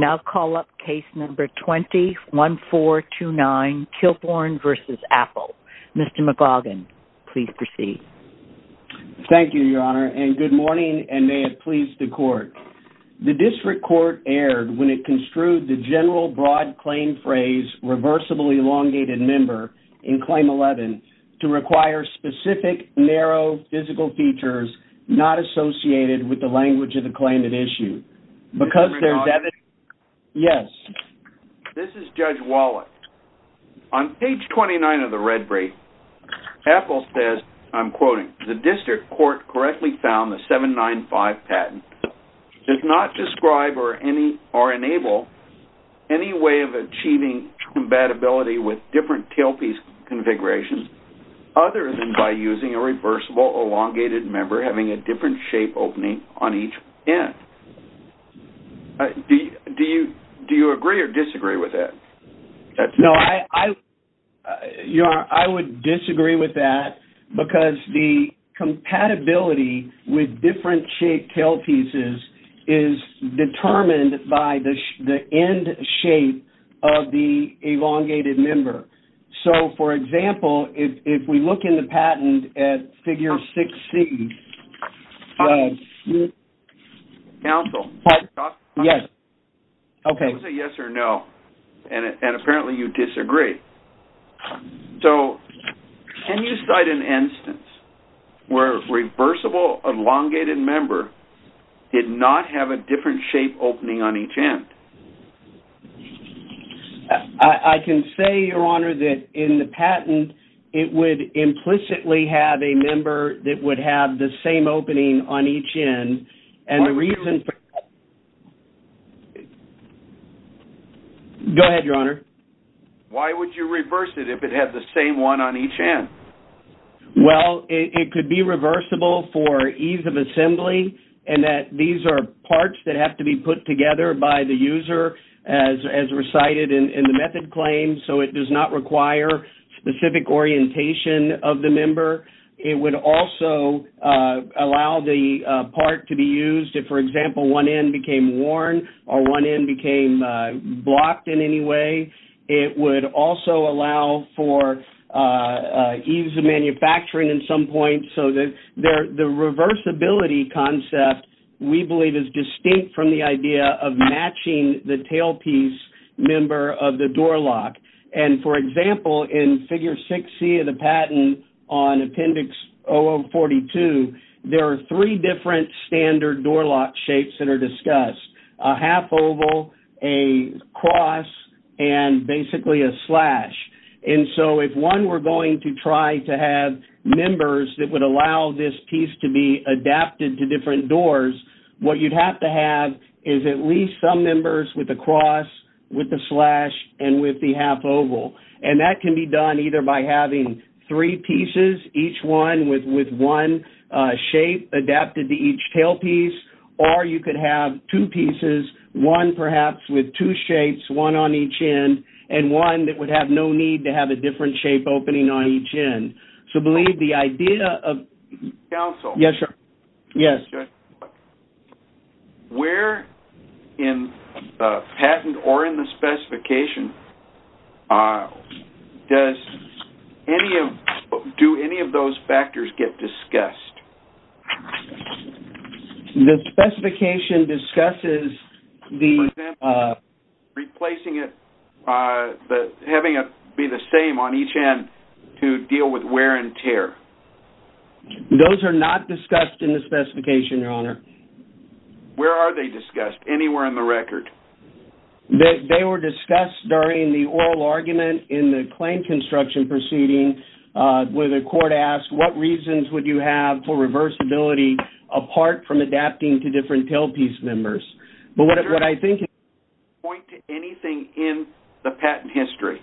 Now call up Case No. 20-1429, Kilbourne v. Apple. Mr. McGauguin, please proceed. Thank you, Your Honor, and good morning and may it please the Court. The District Court erred when it construed the general broad claim phrase, reversible elongated member, in Claim 11 to require specific narrow physical features not associated with the language of the claim at issue. Mr. McGauguin? Yes. This is Judge Wallace. On page 29 of the red brief, Apple says, I'm quoting, the District Court correctly found the 795 patent does not describe or enable any way of achieving compatibility with different tailpiece configurations other than by using a reversible elongated member having a different shape opening on each end. Do you agree or disagree with that? No, I would disagree with that because the compatibility with different shaped tailpieces is determined by the end shape of the elongated member. So, for example, if we look in the patent at figure 6C... Counsel. Yes. Okay. It's a yes or no, and apparently you disagree. So can you cite an instance where a reversible elongated member did not have a different shape opening on each end? I can say, Your Honor, that in the patent, it would implicitly have a member that would have the same opening on each end, and the reason for... Go ahead, Your Honor. Why would you reverse it if it had the same one on each end? Well, it could be reversible for ease of assembly, and that these are parts that have to be put together by the user as recited in the method claim, so it does not require specific orientation of the member. It would also allow the part to be used if, for example, one end became worn or one end became blocked in any way. It would also allow for ease of manufacturing at some point, so the reversibility concept, we believe, is distinct from the idea of matching the tailpiece member of the door lock, and for example, in figure 6C of the patent on appendix 042, there are three different standard door lock shapes that are discussed, a half oval, a cross, and basically a slash, and so if one were going to try to have members that would allow this piece to be adapted to different doors, what you'd have to have is at least some members with a cross, with a slash, and with the half oval, and that can be done either by having three pieces, each one with one shape adapted to each tailpiece, or you could have two pieces, one perhaps with two shapes, one on each end, and one that would have no need to have a different shape opening on each end. So, believe the idea of... Yes, sir. Yes. Where in the patent or in the specification, do any of those factors get discussed? The specification discusses the... The wear and tear. Those are not discussed in the specification, Your Honor. Where are they discussed? Anywhere in the record? They were discussed during the oral argument in the claim construction proceeding where the court asked what reasons would you have for reversibility apart from adapting to different tailpiece members, but what I think... Point to anything in the patent history.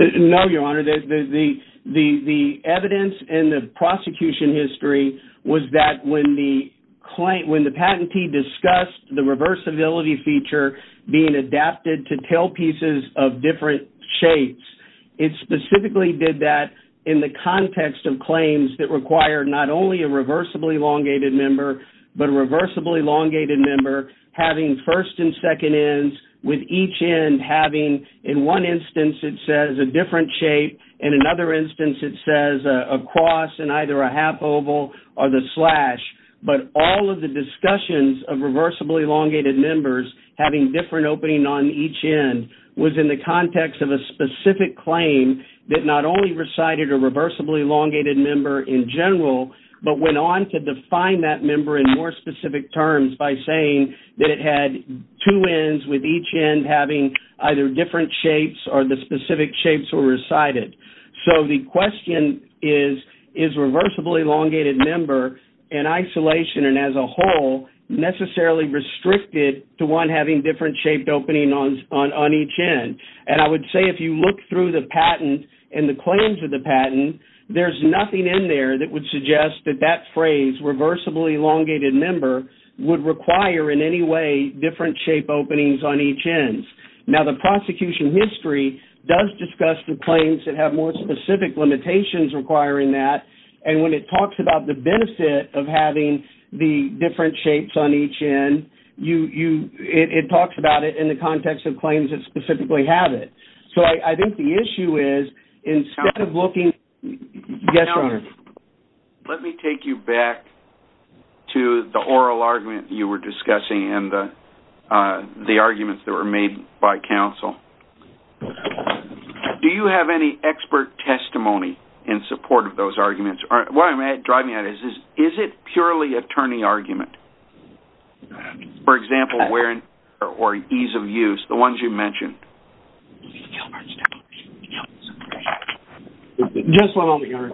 No, Your Honor. The evidence in the prosecution history was that when the patentee discussed the reversibility feature being adapted to tailpieces of different shapes, it specifically did that in the context of claims that require not only a reversibly elongated member, but a reversibly elongated member having first and second ends, with each end having, in one instance, it says, a different shape, in another instance, it says, a cross and either a half oval or the slash. But all of the discussions of reversibly elongated members having different opening on each end was in the context of a specific claim that not only recited a reversibly elongated member in general, but went on to define that member in more specific terms by saying that it had two ends with each end having either different shapes or the specific shapes were recited. So, the question is, is reversibly elongated member in isolation and as a whole necessarily restricted to one having different shaped opening on each end? And I would say if you look through the patent and the claims of the patent, there's nothing in there that would suggest that that phrase, reversibly elongated member, would require in any way different shape openings on each end. Now, the prosecution history does discuss the claims that have more specific limitations requiring that. And when it talks about the benefit of having the different shapes on each end, it talks about it in the context of claims that specifically have it. So, I think the issue is instead of looking... Yes, Your Honor. Let me take you back to the oral argument you were discussing and the arguments that were made by counsel. Do you have any expert testimony in support of those arguments? What I'm driving at is, is it purely attorney argument? For example, where or ease of use, the ones you mentioned? Gilbert's testimony. Just one moment, Your Honor.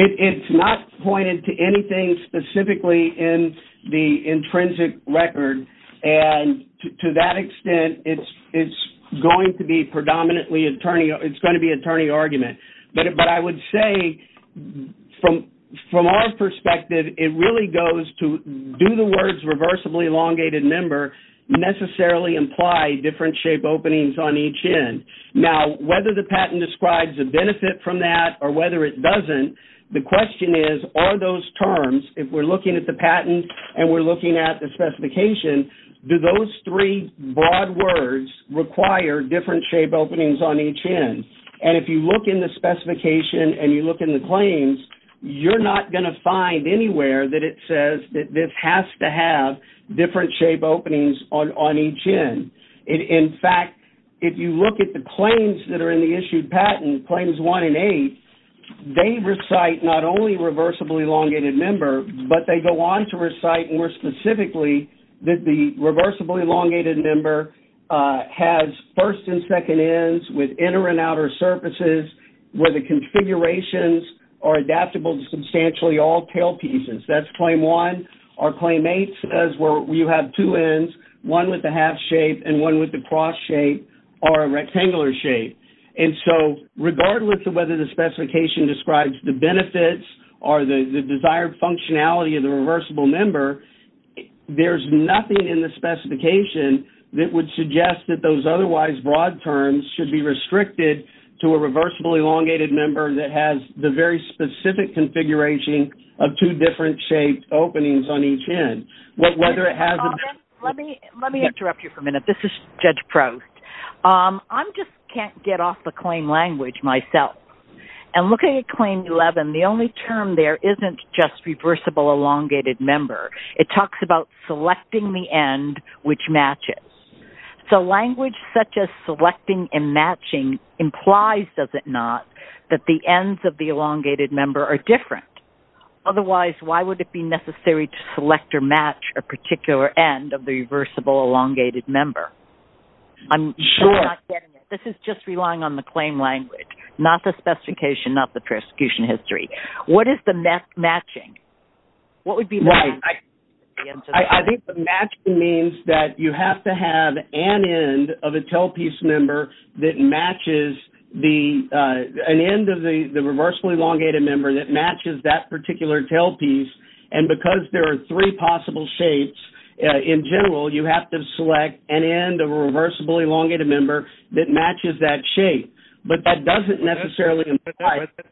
It's not pointed to anything specifically in the intrinsic record. And to that extent, it's going to be predominantly attorney. It's going to be attorney argument. But I would say from our perspective, it really goes to do the words reversibly elongated member necessarily imply different shape openings on each end. Now, whether the patent describes a benefit from that or whether it doesn't, the question is, are those terms, if we're looking at the patent and we're looking at the specification, do those three broad words require different shape openings on each end? And if you look in the specification and you look in the claims, you're not going to find anywhere that it says that this has to have different shape openings on each end. In fact, if you look at the claims that are in the issued patent, claims one and eight, they recite not only reversibly elongated member, but they go on to recite more specifically that the reversibly elongated member has first and second ends with inner and outer surfaces where the configurations are adaptable to substantially all tail pieces. That's claim one. Our claim eight says where you have two ends, one with a half shape and one with a cross shape or a rectangular shape. And so regardless of whether the specification describes the benefits or the desired functionality of the reversible member, there's nothing in the specification that would suggest that those otherwise broad terms should be restricted to a reversible elongated member that has the very specific configuration of two different shaped openings on each end. Let me interrupt you for a minute. This is Judge Proust. I just can't get off the claim language myself. And looking at claim 11, the only term there isn't just reversible elongated member. It talks about selecting the end which matches. So language such as selecting and matching implies, does it not, that the ends of the elongated member are different. Otherwise, why would it be necessary to select or match a particular end of the reversible elongated member? I'm not getting it. This is just relying on the claim language, not the specification, not the prosecution history. What is the matching? What would be the matching? I think the matching means that you have to have an end of a tailpiece member that matches an end of the reversible elongated member that matches that particular tailpiece. And because there are three possible shapes, in general, you have to select an end of a reversible elongated member that matches that shape. But that doesn't necessarily imply... ...that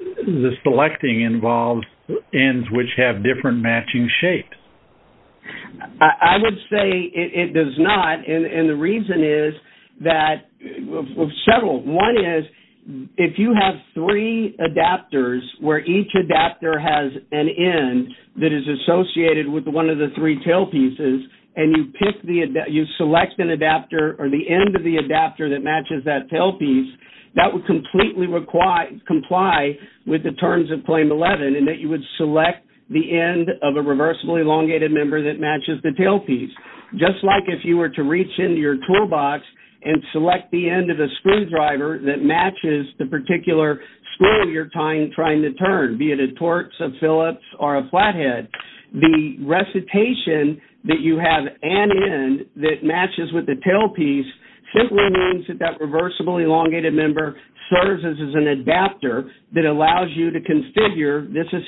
it involves ends which have different matching shapes. I would say it does not. And the reason is that several. One is, if you have three adapters where each adapter has an end that is associated with one of the three tailpieces, and you select an adapter or the end of the adapter that you would select the end of a reversible elongated member that matches the tailpiece. Just like if you were to reach into your toolbox and select the end of a screwdriver that matches the particular screw you're trying to turn, be it a Torx, a Phillips, or a flathead. The recitation that you have an end that matches with the tailpiece simply means that that end matches that tailpiece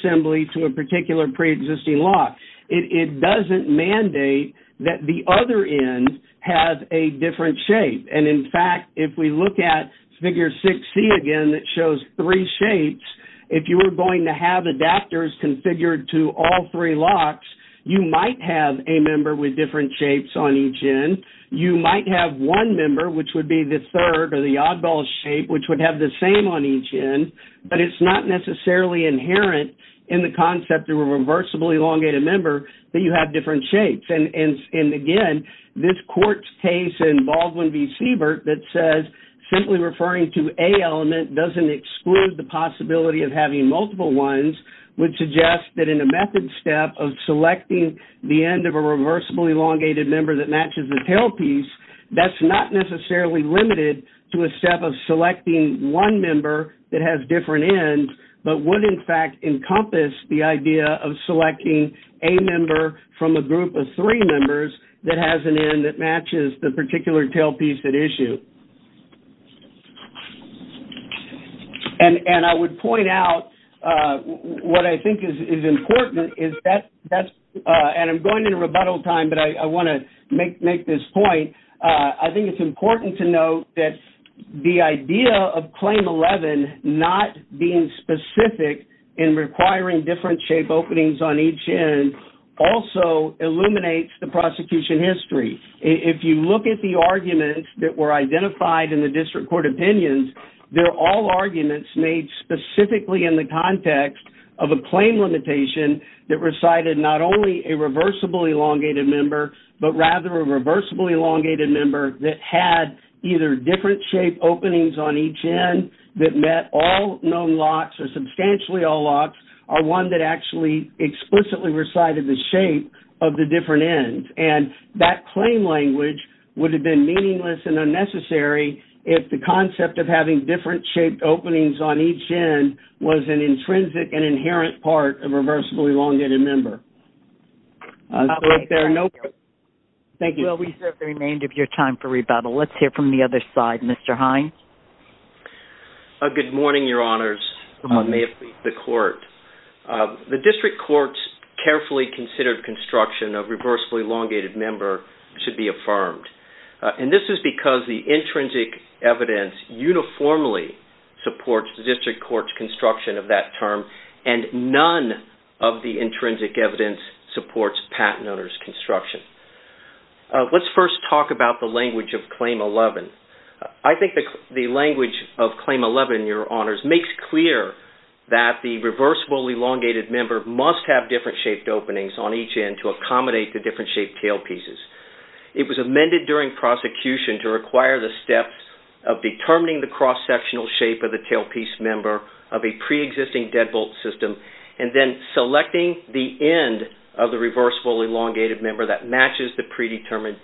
assembly to a particular pre-existing lock. It doesn't mandate that the other end have a different shape. And in fact, if we look at Figure 6C again that shows three shapes, if you were going to have adapters configured to all three locks, you might have a member with different shapes on each end. You might have one member, which would be the third or the oddball shape, which would have the same on each end, but it's not necessarily inherent in the concept of a reversible elongated member that you have different shapes. And again, this court's case in Baldwin v. Siebert that says simply referring to a element doesn't exclude the possibility of having multiple ones would suggest that in a method step of selecting the end of a reversible elongated member that matches the tailpiece, that's not necessarily limited to a step of selecting one member that has different ends, but would in fact encompass the idea of selecting a member from a group of three members that has an end that matches the particular tailpiece at issue. And I would point out what I think is important, and I'm going into rebuttal time, but I want to make this point. I think it's important to note that the idea of Claim 11 not being specific in requiring different shape openings on each end also illuminates the prosecution history. If you look at the arguments that were identified in the district court opinions, they're all arguments made specifically in the context of a claim limitation that recited not only a reversible elongated member, but rather a reversible elongated member that had either different shape openings on each end that met all known locks or substantially all locks or one that actually explicitly recited the shape of the different ends. And that claim language would have been meaningless and unnecessary if the concept of having different shaped openings on each end was an intrinsic and inherent part of a reversible elongated member. Thank you. Well, we have the remainder of your time for rebuttal. Let's hear from the other side. Mr. Hines? Good morning, Your Honors. May it please the Court. The district court's carefully considered construction of reversible elongated member should be affirmed. And this is because the intrinsic evidence uniformly supports the district court's construction of that term, and none of the intrinsic evidence supports patent owner's construction. Let's first talk about the language of Claim 11. I think the language of Claim 11, Your Honors, makes clear that the reversible elongated member must have different shaped openings on each end to accommodate the different shaped tailpieces. It was amended during prosecution to require the steps of determining the cross-sectional shape of the tailpiece member of a pre-existing deadbolt system, and then selecting the end of the reversible elongated member that matches the predetermined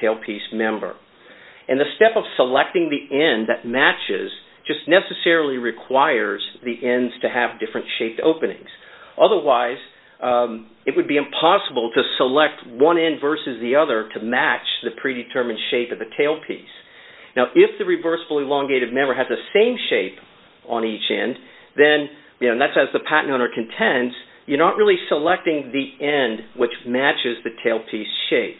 tailpiece member. And the step of selecting the end that matches just necessarily requires the ends to have different shaped openings. Otherwise, it would be impossible to select one end versus the other to match the predetermined shape of the tailpiece. Now, if the reversible elongated member has the same shape on each end, then that's as the patent owner contends, you're not really selecting the end which matches the tailpiece shape.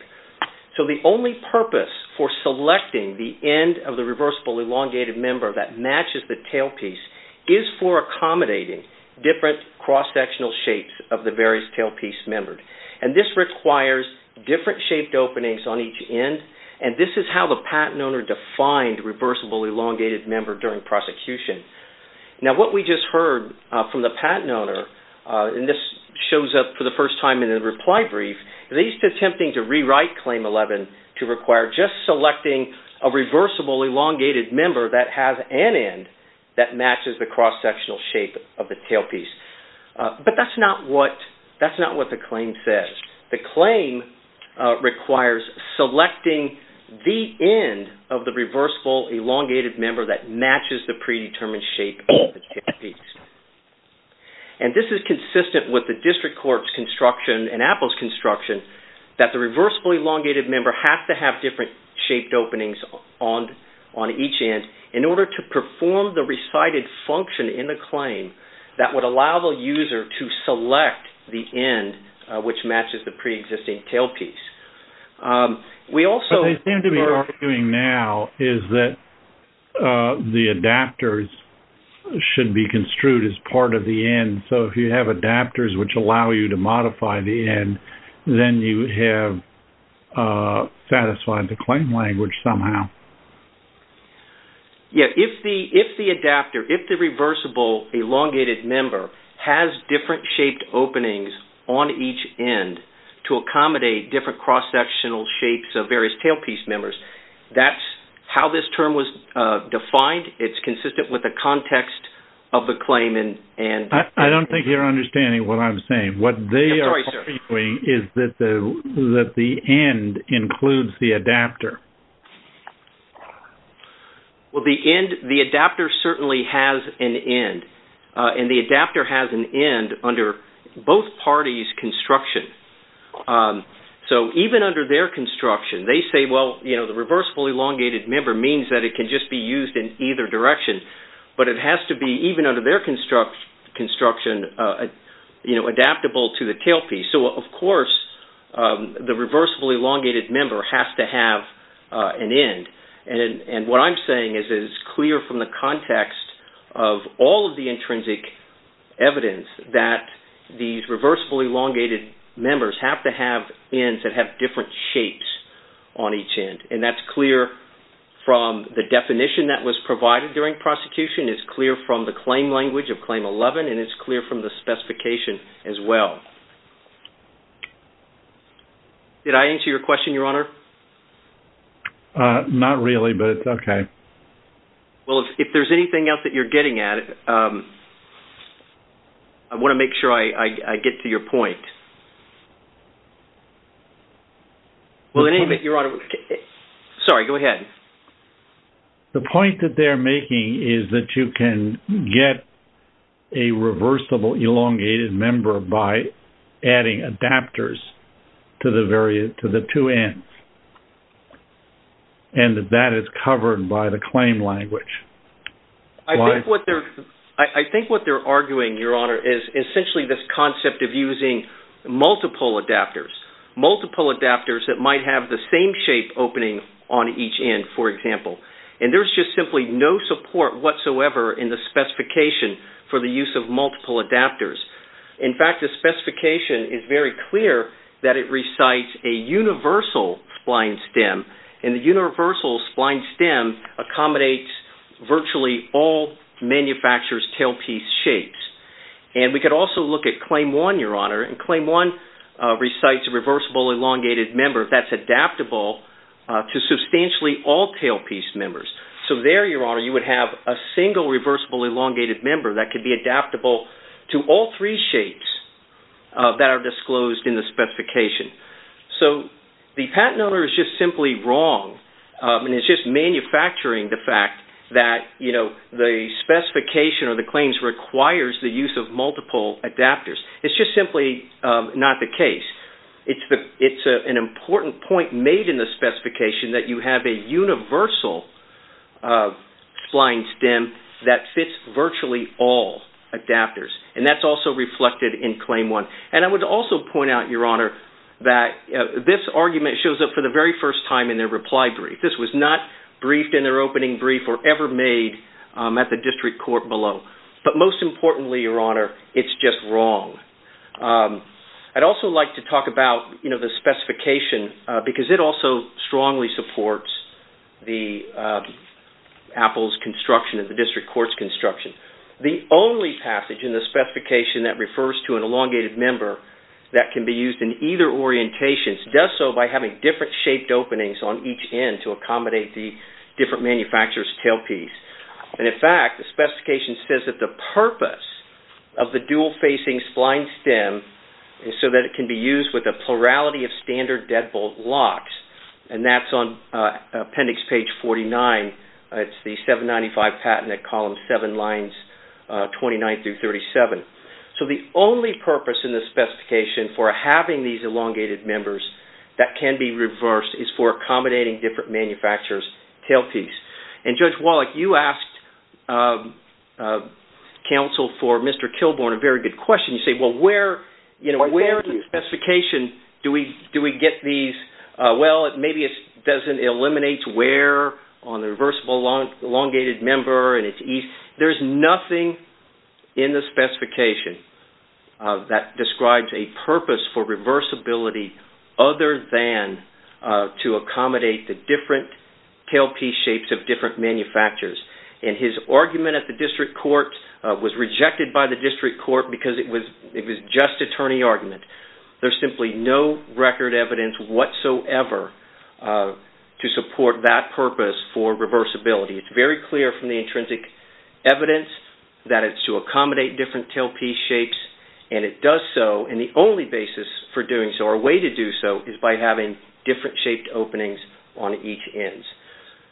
So, the only purpose for selecting the end of the reversible elongated member that matches the tailpiece is for accommodating different cross-sectional shapes of the various tailpiece members. And this requires different shaped openings on each end. And this is how the patent owner defined reversible elongated member during prosecution. Now, what we just heard from the patent owner, and this shows up for the first time in the reply brief, they used attempting to rewrite Claim 11 to require just selecting a reversible elongated member that has an end that matches the cross-sectional shape of the tailpiece. But that's not what the claim says. The claim requires selecting the end of the reversible elongated member that matches the predetermined shape of the tailpiece. And this is consistent with the District Court's construction and Apple's construction that the reversible elongated member has to have different shaped openings on each end in order to perform the recited function in the claim that would allow the user to select the end which matches the preexisting tailpiece. We also... But they seem to be arguing now is that the adapters should be construed as part of the end. So, if you have adapters which allow you to modify the end, then you have satisfied the claim language somehow. Yes. If the adapter, if the reversible elongated member has different shaped openings on each end to accommodate different cross-sectional shapes of various tailpiece members, that's how this term was defined. It's consistent with the context of the claim and... I don't think you're understanding what I'm saying. What they are arguing is that the end includes the adapter. Well, the end... The adapter certainly has an end. And the adapter has an end under both parties' construction. So, even under their construction, they say, well, you know, the reversible elongated member means that it can just be used in either direction. But it has to be, even under their construction, you know, adaptable to the tailpiece. So, of course, the reversible elongated member has to have an end. And what I'm saying is that it's clear from the context of all of the intrinsic evidence that these reversible elongated members have to have ends that have different shapes on each end. And that's clear from the definition that was provided during prosecution. It's clear from the claim language of Claim 11. And it's clear from the specification as well. Did I answer your question, Your Honor? Not really, but okay. Well, if there's anything else that you're getting at, I want to make sure I get to your point. Well, in any event, Your Honor... Sorry, go ahead. The point that they're making is that you can get a reversible elongated member by adding adapters to the two ends. And that is covered by the claim language. I think what they're arguing, Your Honor, is essentially this concept of using multiple adapters, multiple adapters that might have the same shape opening on each end, for example. And there's just simply no support whatsoever in the specification for the use of multiple adapters. In fact, the specification is very clear that it recites a universal spline stem, and the universal spline stem accommodates virtually all manufacturer's tailpiece shapes. And we could also look at Claim 1, Your Honor, and Claim 1 recites a reversible elongated member that's adaptable to substantially all tailpiece members. So there, Your Honor, you would have a single reversible elongated member that could be adaptable to all three shapes that are disclosed in the specification. So the patent owner is just simply wrong. And it's just manufacturing the fact that the specification or the claims requires the use of multiple adapters. It's just simply not the case. It's an important point made in the specification that you have a universal spline stem that fits virtually all adapters. And that's also reflected in Claim 1. And I would also point out, Your Honor, that this argument shows up for the very first time in their reply brief. This was not briefed in their opening brief or ever made at the district court below. But most importantly, Your Honor, it's just wrong. I'd also like to talk about, you know, the specification because it also strongly supports the Apple's construction and the district court's construction. The only passage in the specification that refers to an elongated member that can be used in either orientation does so by having different shaped openings on each end to accommodate the different manufacturer's tailpiece. And in fact, the specification says that the purpose of the dual-facing spline stem is so that it can be used with a plurality of standard deadbolt locks. And that's on appendix page 49. It's the 795 patent at column 7, lines 29 through 37. So, the only purpose in the specification for having these elongated members that can be reversed is for accommodating different manufacturer's tailpiece. And Judge Wallach, you asked counsel for Mr. Kilbourn a very good question. You said, well, where, you know, where in the specification do we get these? Well, maybe it doesn't eliminate where on the reversible elongated member and it's nothing in the specification that describes a purpose for reversibility other than to accommodate the different tailpiece shapes of different manufacturers. And his argument at the district court was rejected by the district court because it was just attorney argument. There's simply no record evidence whatsoever to support that purpose for reversibility. It's very clear from the intrinsic evidence that it's to accommodate different tailpiece shapes and it does so and the only basis for doing so or a way to do so is by having different shaped openings on each ends.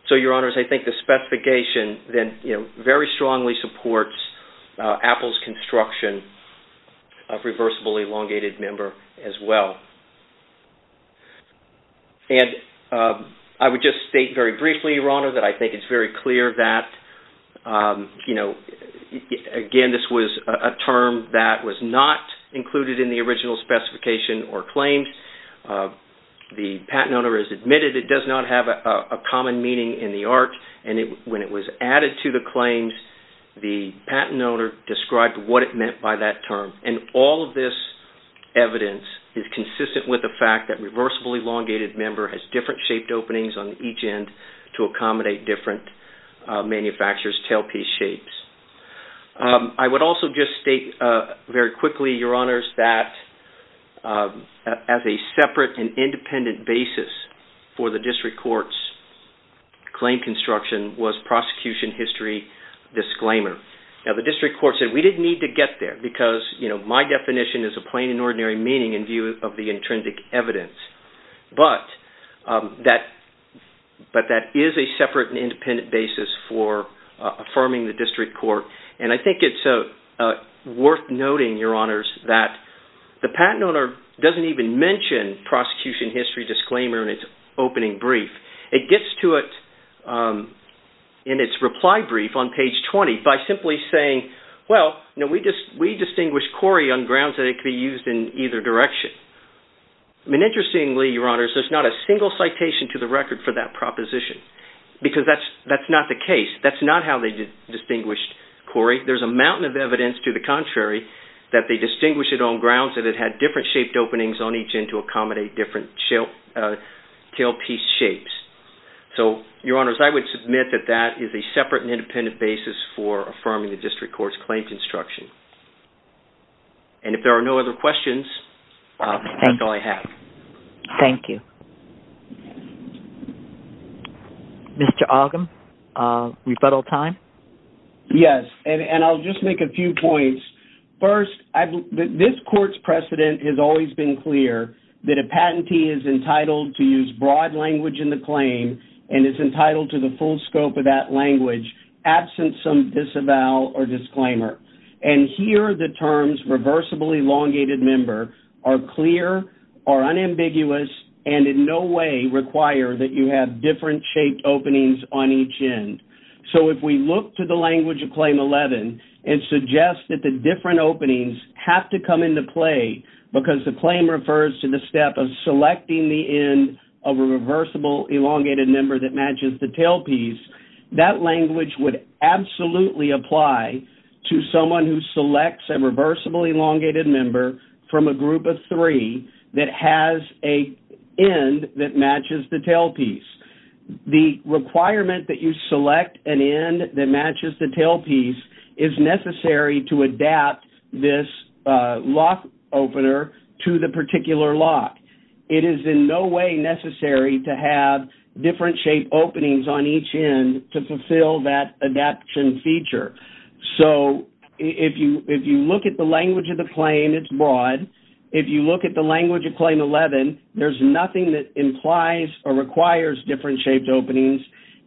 So, Your Honors, I think the specification then, you know, very strongly supports Apple's construction of reversible elongated member as well. And I would just state very briefly, Your Honor, that I think it's very clear that, you know, again, this was a term that was not included in the original specification or claimed. The patent owner has admitted it does not have a common meaning in the art and when it was added to the claims, the patent owner described what it meant by that term. And all of this evidence is consistent with the fact that reversible elongated member has different shaped openings on each end to accommodate different manufacturers' tailpiece shapes. I would also just state very quickly, Your Honors, that as a separate and independent basis for the district court's claim construction was prosecution history disclaimer. Now, the district court said we didn't need to get there because, you know, my definition is a plain and ordinary meaning in view of the intrinsic evidence. But that is a separate and independent basis for affirming the district court. And I think it's worth noting, Your Honors, that the patent owner doesn't even mention prosecution history disclaimer in its opening brief. It gets to it in its reply brief on page 20 by simply saying, well, we distinguish CORI on grounds that it could be used in either direction. I mean, interestingly, Your Honors, there's not a single citation to the record for that proposition because that's not the case. That's not how they distinguished CORI. There's a mountain of evidence to the contrary that they distinguish it on grounds that it accommodate different tailpiece shapes. So, Your Honors, I would submit that that is a separate and independent basis for affirming the district court's claims construction. And if there are no other questions, that's all I have. Thank you. Mr. Ogham, rebuttal time? Yes, and I'll just make a few points. First, this court's precedent has always been clear that a patentee is entitled to use broad language in the claim and is entitled to the full scope of that language, absent some disavowal or disclaimer. And here, the terms reversibly elongated member are clear, are unambiguous, and in no way require that you have different shaped openings on each end. So, if we look to the language of Claim 11 and suggest that the different openings have to come into play because the claim refers to the step of selecting the end of a reversible elongated member that matches the tailpiece, that language would absolutely apply to someone who selects a reversible elongated member from a group of three that has a end that matches the tailpiece. The requirement that you select an end that matches the tailpiece is necessary to adapt this lock opener to the particular lock. It is in no way necessary to have different shaped openings on each end to fulfill that adaption feature. So, if you look at the language of the claim, it's broad. If you look at the language of Claim 11, there's nothing that implies or requires different shaped openings,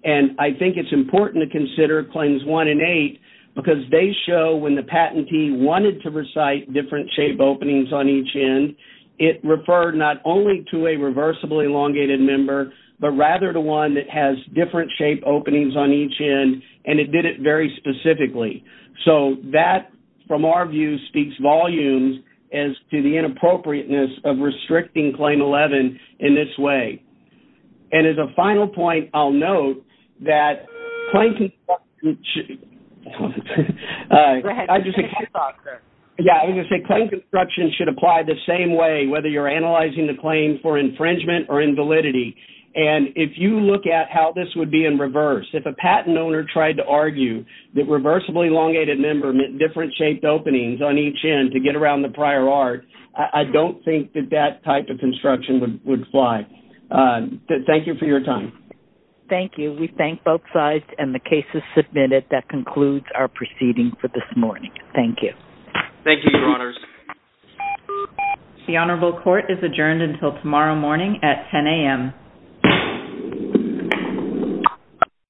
and I think it's important to consider Claims 1 and 8 because they show when the patentee wanted to recite different shaped openings on each end, it referred not only to a reversible elongated member, but rather to one that has different shaped openings on each end, and it did it very specifically. So, that from our view speaks volumes as to the inappropriateness of restricting Claim 11 in this way. And as a final point, I'll note that Claim Construction should apply the same way whether you're analyzing the claim for infringement or invalidity. And if you look at how this would be in reverse, if a patent owner tried to argue that a reversible elongated member meant different shaped openings on each end to get around the prior art, I don't think that that type of construction would fly. Thank you for your time. Thank you. We thank both sides, and the case is submitted. That concludes our proceeding for this morning. Thank you. Thank you, Your Honors. The Honorable Court is adjourned until tomorrow morning at 10 a.m.